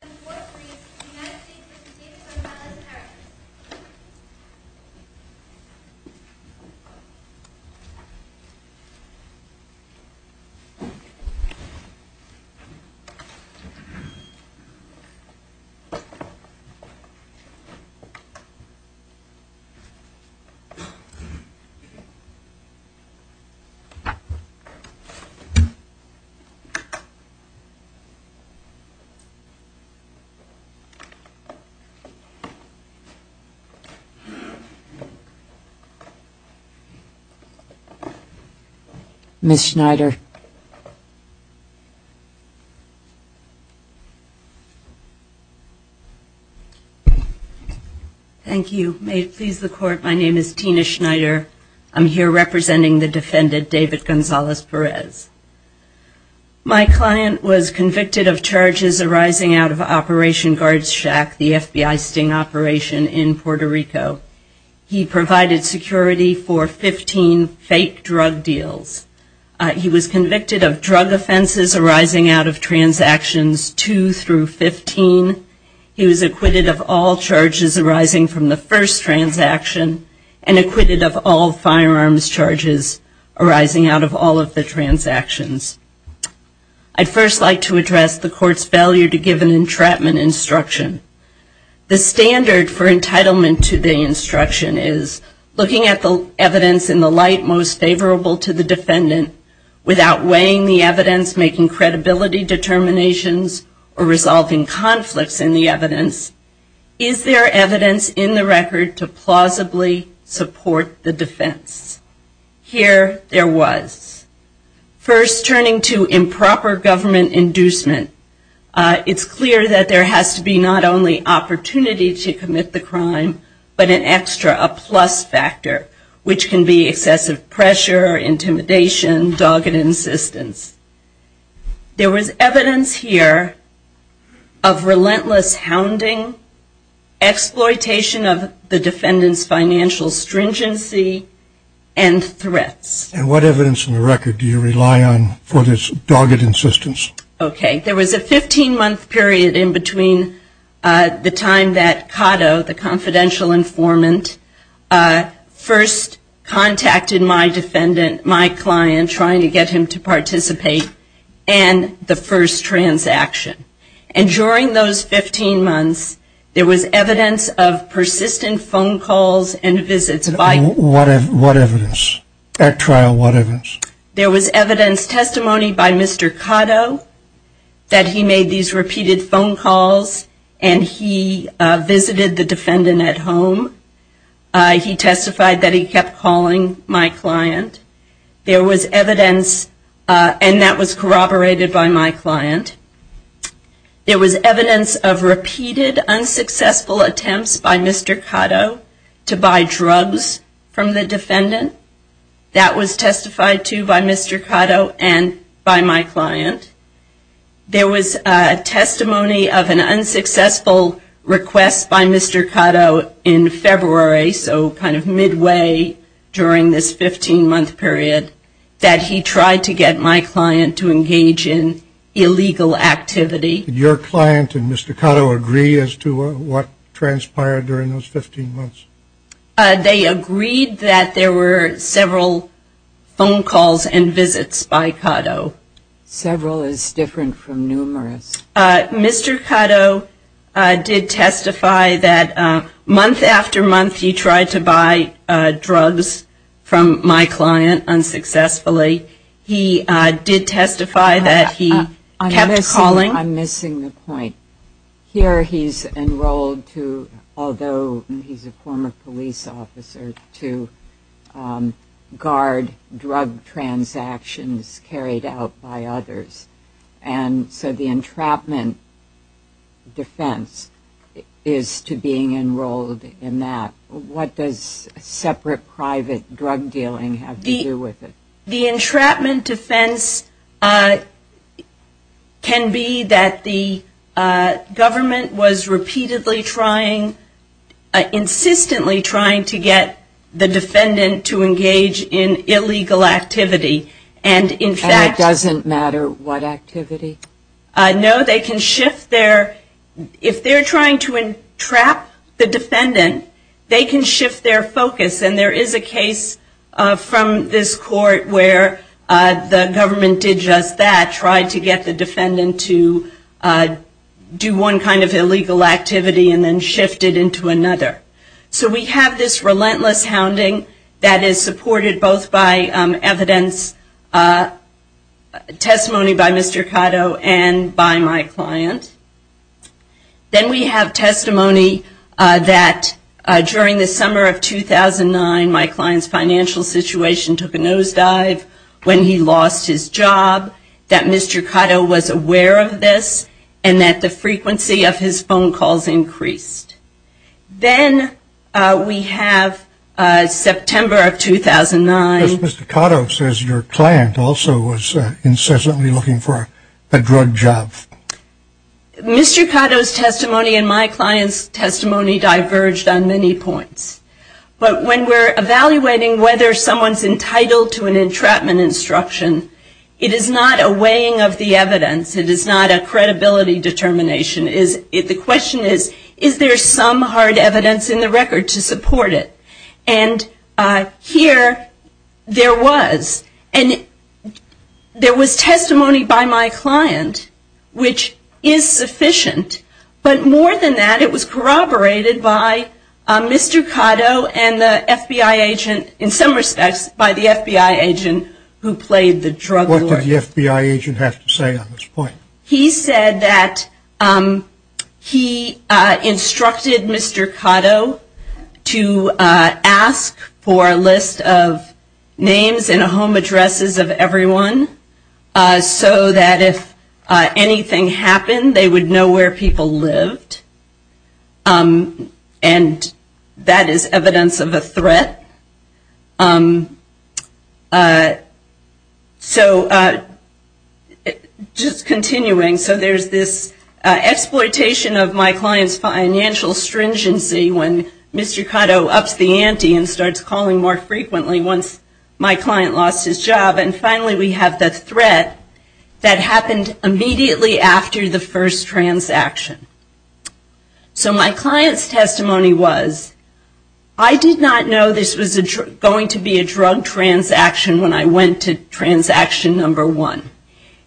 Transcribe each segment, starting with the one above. The floor is yours, United States v. Gonzalez-Perez. Ms. Schneider. Thank you. May it please the Court, my name is Tina Schneider. I'm here representing the defendant, David Gonzalez-Perez. My client was convicted of charges arising out of Operation Guards Shack, the FBI sting operation in Puerto Rico. He provided security for 15 fake drug deals. He was convicted of drug offenses arising out of transactions 2 through 15. He was acquitted of all charges arising from the first transaction and acquitted of all firearms charges arising out of all the transactions. I'd first like to address the Court's failure to give an entrapment instruction. The standard for entitlement to the instruction is looking at the evidence in the light most favorable to the defendant without weighing the evidence, making credibility determinations or resolving conflicts in the evidence. Is there evidence in the record to plausibly support the defense? Here there was. First, turning to improper government inducement, it's clear that there has to be not only opportunity to commit the crime, but an extra, a plus factor, which can be excessive pressure, intimidation, dogged insistence. There was evidence here of relentless hounding, exploitation of the defendant's financial stringency and threats. And what evidence in the record do you rely on for this dogged insistence? Okay, there was a 15-month period in between the time that Cotto, the confidential and the first transaction. And during those 15 months, there was evidence of persistent phone calls and visits by... What evidence? At trial, what evidence? There was evidence, testimony by Mr. Cotto, that he made these repeated phone calls and he visited the defendant at home. He testified that he kept calling my client. There was evidence, and that was corroborated by my client. There was evidence of repeated unsuccessful attempts by Mr. Cotto to buy drugs from the defendant. That was testified to by Mr. Cotto and by my client. There was testimony of an unsuccessful request by Mr. Cotto in February, so kind of midway during this 15-month period, that he tried to get my client to engage in illegal activity. Did your client and Mr. Cotto agree as to what transpired during those 15 months? They agreed that there were several phone calls and visits by Cotto. Several is different from numerous. Mr. Cotto did testify that month after month, he tried to buy drugs from my client unsuccessfully. He did testify that he kept calling... I'm missing the point. Here he's enrolled to, although he's a former police officer, to guard drug transactions carried out by others. And so the entrapment defense is to being enrolled in that. What does separate private drug dealing have to do with it? The entrapment defense can be that the government was repeatedly trying, insistently trying to get the defendant to engage in illegal activity. And in fact... And it doesn't matter what activity? No, they can shift their... If they're trying to entrap the defendant, they can shift their court where the government did just that, tried to get the defendant to do one kind of illegal activity and then shifted into another. So we have this relentless hounding that is supported both by evidence, testimony by Mr. Cotto and by my client. Then we have when he lost his job, that Mr. Cotto was aware of this, and that the frequency of his phone calls increased. Then we have September of 2009... Yes, Mr. Cotto says your client also was incessantly looking for a drug job. Mr. Cotto's testimony and my client's testimony diverged on many points. But when we're evaluating whether someone's entitled to an entrapment instruction, it is not a weighing of the evidence. It is not a credibility determination. The question is, is there some hard evidence in the record to support it? And here there was. And there was testimony by my client which is sufficient. But more than that, it was corroborated by Mr. Cotto and the FBI agent in some respects by the FBI agent who played the drug lord. What did the FBI agent have to say on this point? He said that he instructed Mr. Cotto to ask for a list of names and home addresses of everyone so that if anything happened, they would know where people lived. And that is evidence of a threat. So just continuing, so there's this exploitation of my client's financial stringency when Mr. Cotto ups the ante and starts calling more frequently once my client lost his job. And finally we have the threat that happened immediately after the first transaction. So my client's testimony was, I did not know this was going to be a drug transaction when I went to transaction number one.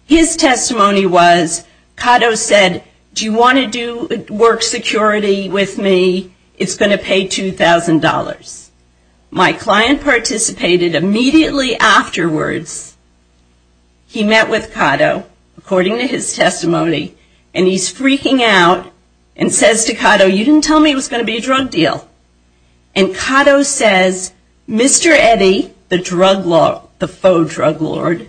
His testimony was, Cotto said, do you want to do work security with me? It's going to pay $2,000. My client participated immediately afterwards. He met with Cotto, according to his testimony, and he's freaking out and says to Cotto, you didn't tell me it was going to be a drug deal. And Cotto says, Mr. Eddy, the drug lord, the faux drug lord,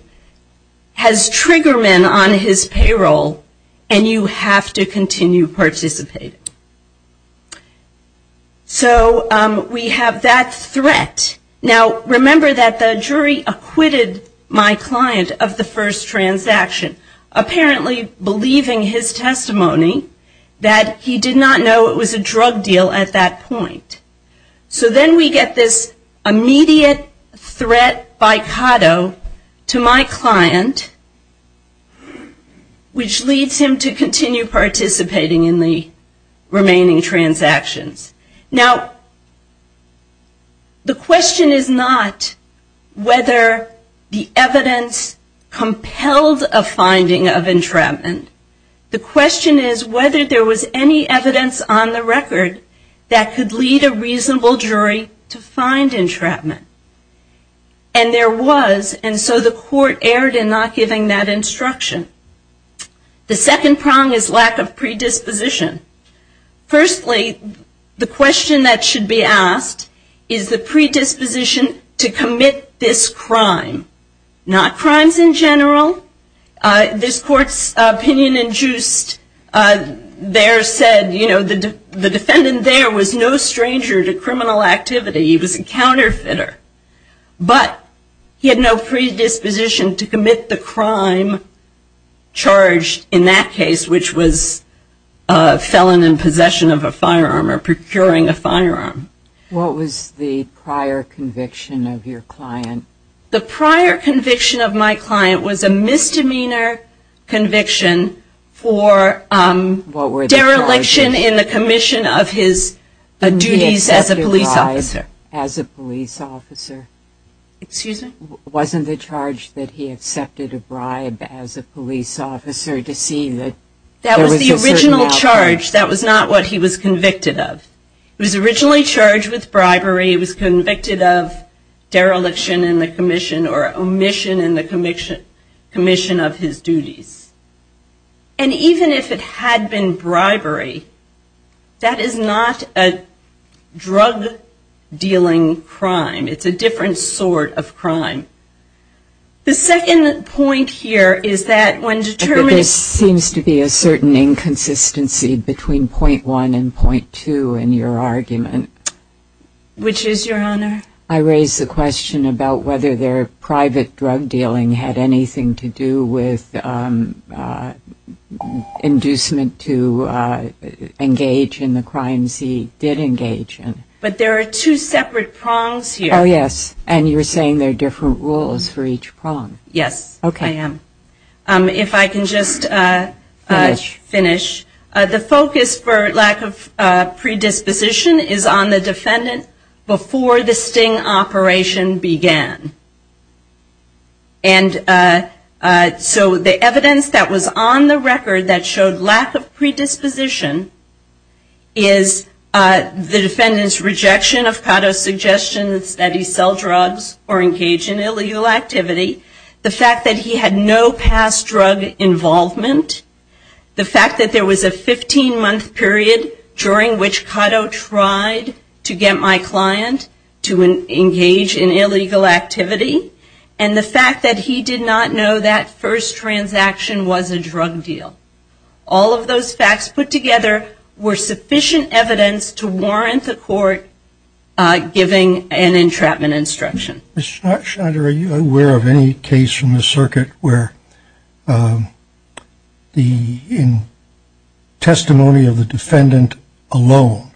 has Triggerman on his payroll and you have to continue participating. So we have that threat. Now remember that the jury acquitted my client of the first transaction, apparently believing his testimony that he did not know it was a drug deal at that point. So then we get this immediate threat by Cotto to my client, which leads him to continue participating in the remaining transactions. Now the question is not whether the evidence compelled a finding of entrapment. The question is whether there was any evidence on the record that could lead a reasonable jury to find entrapment. And there was, and so the court erred in not giving that instruction. The second prong is lack of predisposition. Firstly, the question that should be asked is the predisposition to commit this crime. Not crimes in general. This court's opinion induced there said, you know, the defendant there was no stranger to criminal activity. He was a counterfeiter. But he had no predisposition to commit the crime charged in that case, which was a felon in possession of a firearm or procuring a firearm. What was the prior conviction of your client? The prior conviction of my client was a misdemeanor conviction for dereliction in the commission of his duties as a police officer. As a police officer. Excuse me? Wasn't the charge that he accepted a bribe as a police officer to see that there was a certain outcome? That was the original charge. That was not what he was convicted of. He was originally charged with bribery. He was convicted of dereliction in the commission or omission in the commission of his duties. And even if it had been bribery, that is not a drug-dealing crime. It's a different sort of crime. The second point here is that when determining But there seems to be a certain inconsistency between point one and point two in your argument. Which is, Your Honor? I raise the question about whether their private drug-dealing had anything to do with inducement to engage in the crimes he did engage in. But there are two separate prongs here. Oh, yes. And you're saying there are different rules for each prong. Yes, I am. If I can just finish. The focus for lack of predisposition is on the defendant before the sting operation began. And so the evidence that was on the record that showed lack of predisposition is the defendant's rejection of Cotto's suggestion that he sell drugs or engage in illegal activity. The fact that he had no past drug involvement. The fact that there was a 15-month period during which Cotto tried to get my client to engage in illegal activity. And the fact that he did not know that first transaction was a drug deal. All of those facts put together were sufficient evidence to warrant the court giving an entrapment instruction. Ms. Schneider, are you aware of any case from the circuit where the testimony of the defendant alone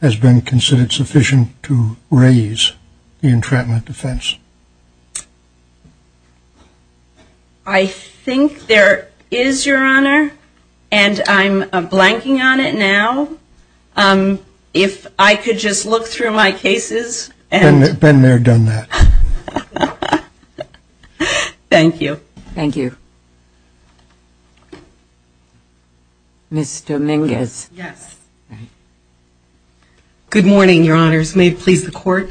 has been considered sufficient to raise the entrapment defense? I think there is, Your Honor. And I'm blanking on it now. If I could just look through my cases. Ben Mayer done that. Thank you. Thank you. Ms. Dominguez. Yes. Good morning, Your Honors. May it please the court.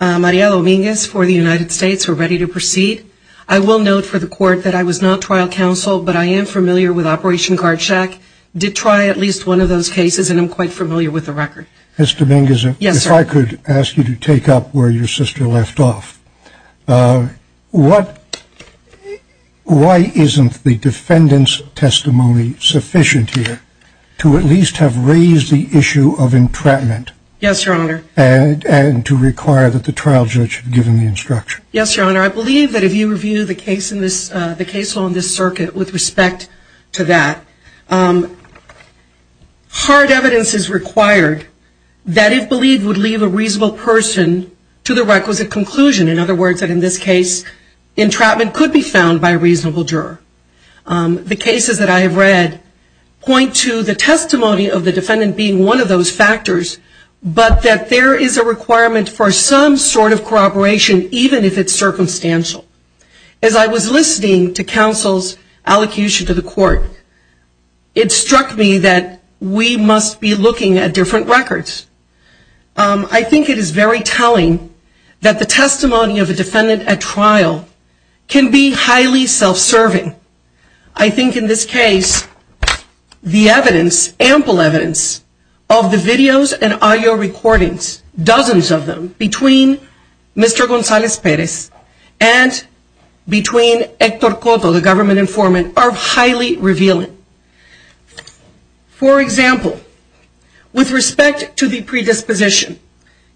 Maria Dominguez for the United States. We're ready to proceed. I will note for the court that I was not trial counsel, but I am familiar with Operation Guard Shack. Did try at least one of those cases and I'm quite familiar with the record. Yes, sir. Ms. Dominguez. Yes, sir. Ms. Dominguez. Yes, sir. Ms. Dominguez. Yes, sir. I'm going to take up where your sister left off. What, why isn't the defendant's testimony sufficient here to at least have raised the issue of entrapment? Yes, Your Honor. And to require that the trial judge have given the instruction? Yes, Your Honor. I believe that if you review the case in this, the case on this circuit with respect to that, hard evidence is required that if believed would leave a reasonable person to the requisite conclusion. In other words, that in this case, entrapment could be found by a reasonable juror. The cases that I have read point to the testimony of the defendant being one of those factors, but that there is a requirement for some sort of corroboration even if it's circumstantial. As I was listening to counsel's allocution to the court, it struck me that we must be looking at different records. I think it is very telling that the testimony of a defendant at trial can be highly self-serving. I think in this case, the evidence, ample evidence of the videos and audio recordings, dozens of them, between Mr. Gonzalez-Perez and between Hector Cotto, the government informant, are highly revealing. For example, with respect to the predisposition,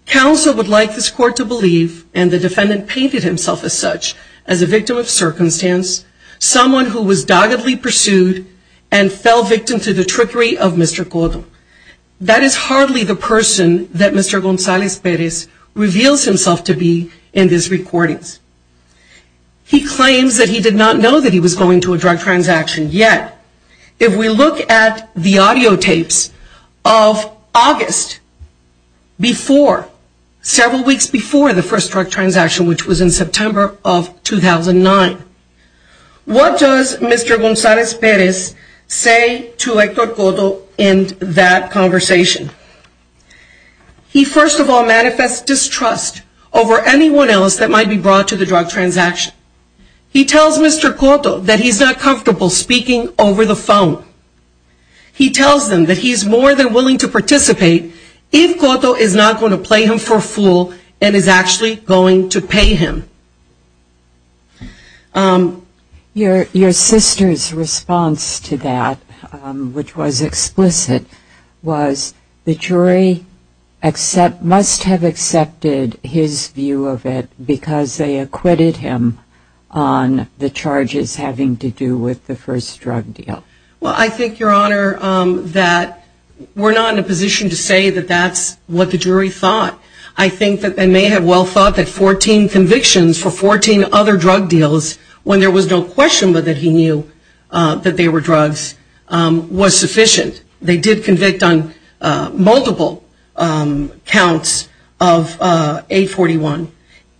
counsel would like this court to believe, and the defendant painted himself as such, as a victim of circumstance, someone who was doggedly pursued and fell victim to the trickery of Mr. Cotto. That is hardly the person that Mr. Gonzalez-Perez reveals himself to be in these recordings. He claims that he did not know that he was going to a drug transaction yet. If we look at the audio tapes of August before, several weeks before the first drug transaction, which was in September of 2009, what does Mr. Gonzalez-Perez say to Hector Cotto in that conversation? He first of all manifests distrust over anyone else that might be brought to the drug transaction. He tells Mr. Cotto that he is not comfortable speaking over the phone. He tells them that he is more than willing to participate if Cotto is not going to play him for a fool and is actually going to pay him. Your sister's response to that, which was explicit, was the jury must have accepted his view of it because they acquitted him on the charges having to do with the first drug deal. Well, I think, Your Honor, that we're not in a position to say that that's what the jury thought. I think that they may have well thought that 14 convictions were not enough for 14 other drug deals when there was no question that he knew that they were drugs was sufficient. They did convict on multiple counts of 841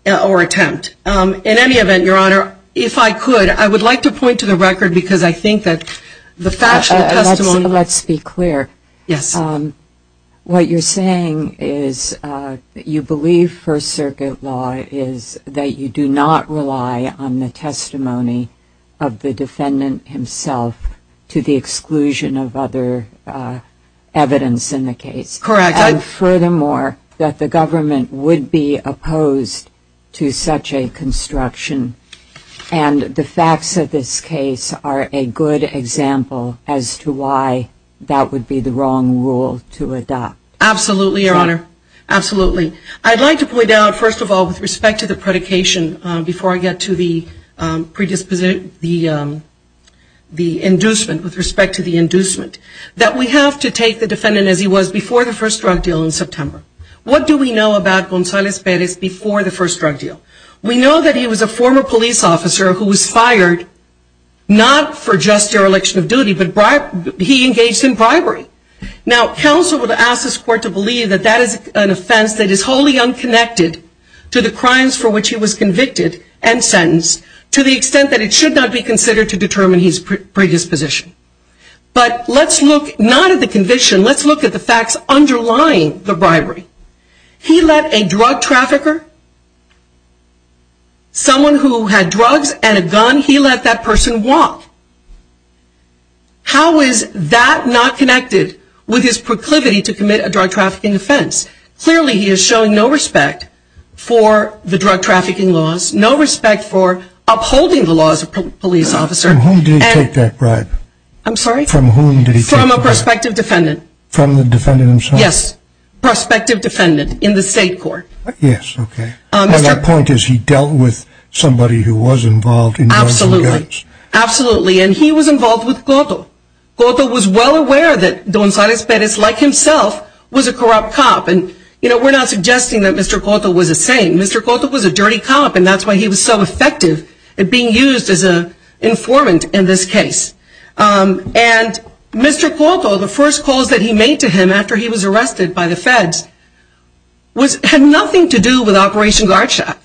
or attempt. In any event, Your Honor, if I could, I would like to point to the record because I think that the factual testimony... rely on the testimony of the defendant himself to the exclusion of other evidence in the case. Correct. And furthermore, that the government would be opposed to such a construction. And the facts of this case are a good example as to why that would be the wrong rule to adopt. Absolutely, Your Honor. Absolutely. I'd like to point out, first of all, with respect to the predication before I get to the inducement, with respect to the inducement, that we have to take the defendant as he was before the first drug deal in September. What do we know about Gonzalez Perez before the first drug deal? We know that he was a former police officer who was fired not for just dereliction of duty, but he engaged in bribery. Now, counsel would ask this court to believe that that is an offense that is wholly unconnected to the crimes for which he was convicted and sentenced to the extent that it should not be considered to determine his predisposition. But let's look not at the conviction, let's look at the facts underlying the bribery. He let a drug trafficker, someone who had drugs and a gun, he let that person walk. How is that not connected with his proclivity to commit a drug trafficking offense? Clearly he is showing no respect for the drug trafficking laws, no respect for upholding the laws of a police officer. From whom did he take that bribe? I'm sorry? From whom did he take that bribe? From a prospective defendant. From the defendant himself? Yes. Prospective defendant in the state court. Absolutely. And he was involved with Cotto. Cotto was well aware that Don Salas Perez, like himself, was a corrupt cop. And, you know, we're not suggesting that Mr. Cotto was a saint. Mr. Cotto was a dirty cop and that's why he was so effective at being used as an informant in this case. And Mr. Cotto, the first calls that he made to him after he was arrested by the feds, had nothing to do with Operation Guard Shack.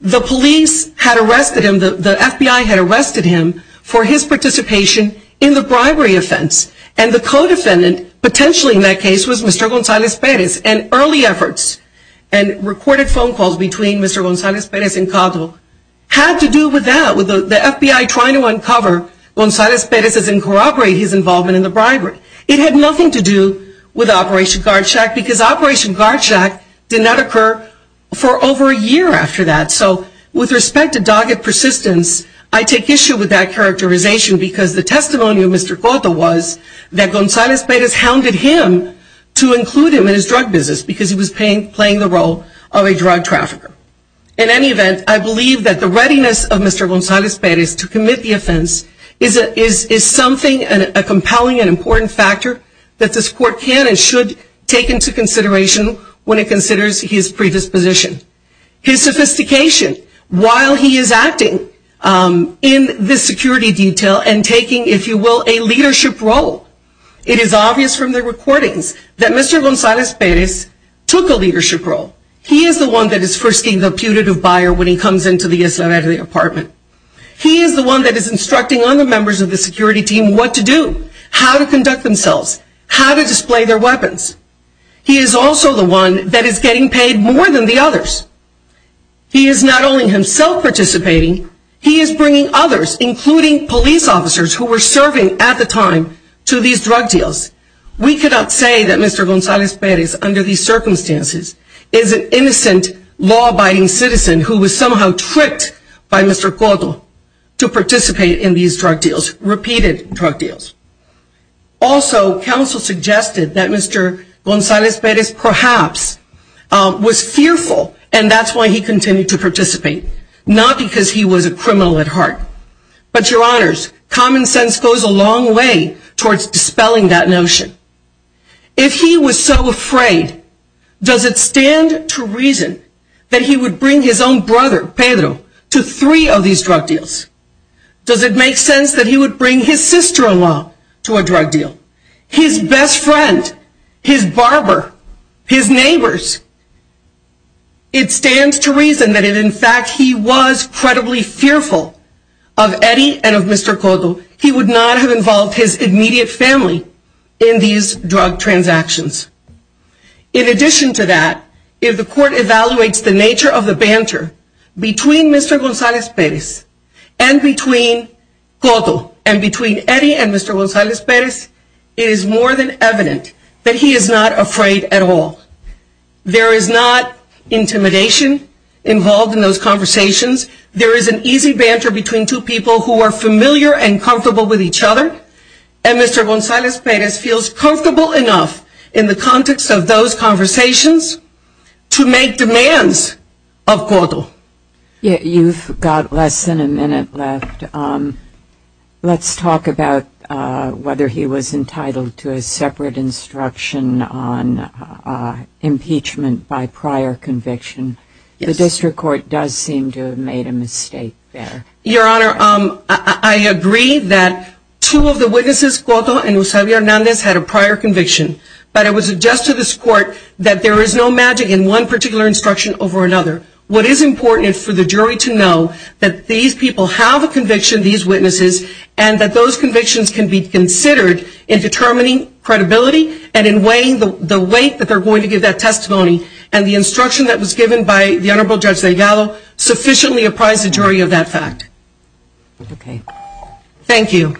The police had arrested him, the FBI had arrested him for his participation in the bribery offense. And the co-defendant, potentially in that case, was Mr. Gonzales Perez. And early efforts and recorded phone calls between Mr. Gonzales Perez and Cotto had to do with that, with the FBI trying to uncover Gonzales Perez's and corroborate his involvement in the bribery. It had nothing to do with Operation Guard Shack because Operation Guard Shack did not occur for over a year after that. So with respect to dogged persistence, I take issue with that characterization because the testimony of Mr. Cotto was that Gonzales Perez hounded him to include him in his drug business because he was playing the role of a drug trafficker. In any event, I believe that the readiness of Mr. Gonzales Perez to commit the offense is something, a compelling and important factor that this court can and should take into consideration when it considers his predisposition. His sophistication while he is acting in this security detail and taking, if you will, a leadership role. It is obvious from the recordings that Mr. Gonzales Perez took a leadership role. He is the one that is first being the on the members of the security team what to do, how to conduct themselves, how to display their weapons. He is also the one that is getting paid more than the others. He is not only himself participating, he is bringing others including police officers who were serving at the time to these drug deals. We cannot say that Mr. Gonzales Perez under these circumstances is an innocent law abiding citizen who was somehow tricked by Mr. Cotto to participate in these drug deals, repeated drug deals. Also, counsel suggested that Mr. Gonzales Perez perhaps was fearful and that is why he continued to participate, not because he was a criminal at heart. But your honors, common sense goes a long way towards dispelling that notion. If he was so afraid, does it stand to reason that he would bring his own drug deals? Does it make sense that he would bring his sister-in-law to a drug deal? His best friend, his barber, his neighbors? It stands to reason that in fact he was credibly fearful of Eddie and of Mr. Cotto. He would not have involved his immediate family in these drug transactions. In addition to that, if the court evaluates the nature of the banter between Mr. Gonzales Perez and between Cotto and between Eddie and Mr. Gonzales Perez, it is more than evident that he is not afraid at all. There is not intimidation involved in those conversations. There is an easy banter between two people who are familiar and comfortable with each other and Mr. Gonzales Perez feels comfortable enough in the context of those conversations to make demands of Cotto. You've got less than a minute left. Let's talk about whether he was entitled to a separate instruction on impeachment by prior conviction. The district court does seem to have made a mistake there. Your honor, I agree that two of the witnesses, Cotto and Eusebio Hernandez, had a prior conviction. But I would suggest to this court that there is no magic in one particular instruction over another. What is important is for the jury to know that these people have a conviction, these witnesses, and that those convictions can be considered in determining credibility and in weighing the weight that they're going to give that testimony. And the instruction that was given by the Honorable Judge Delgado sufficiently apprised the jury of that fact. Okay. Thank you.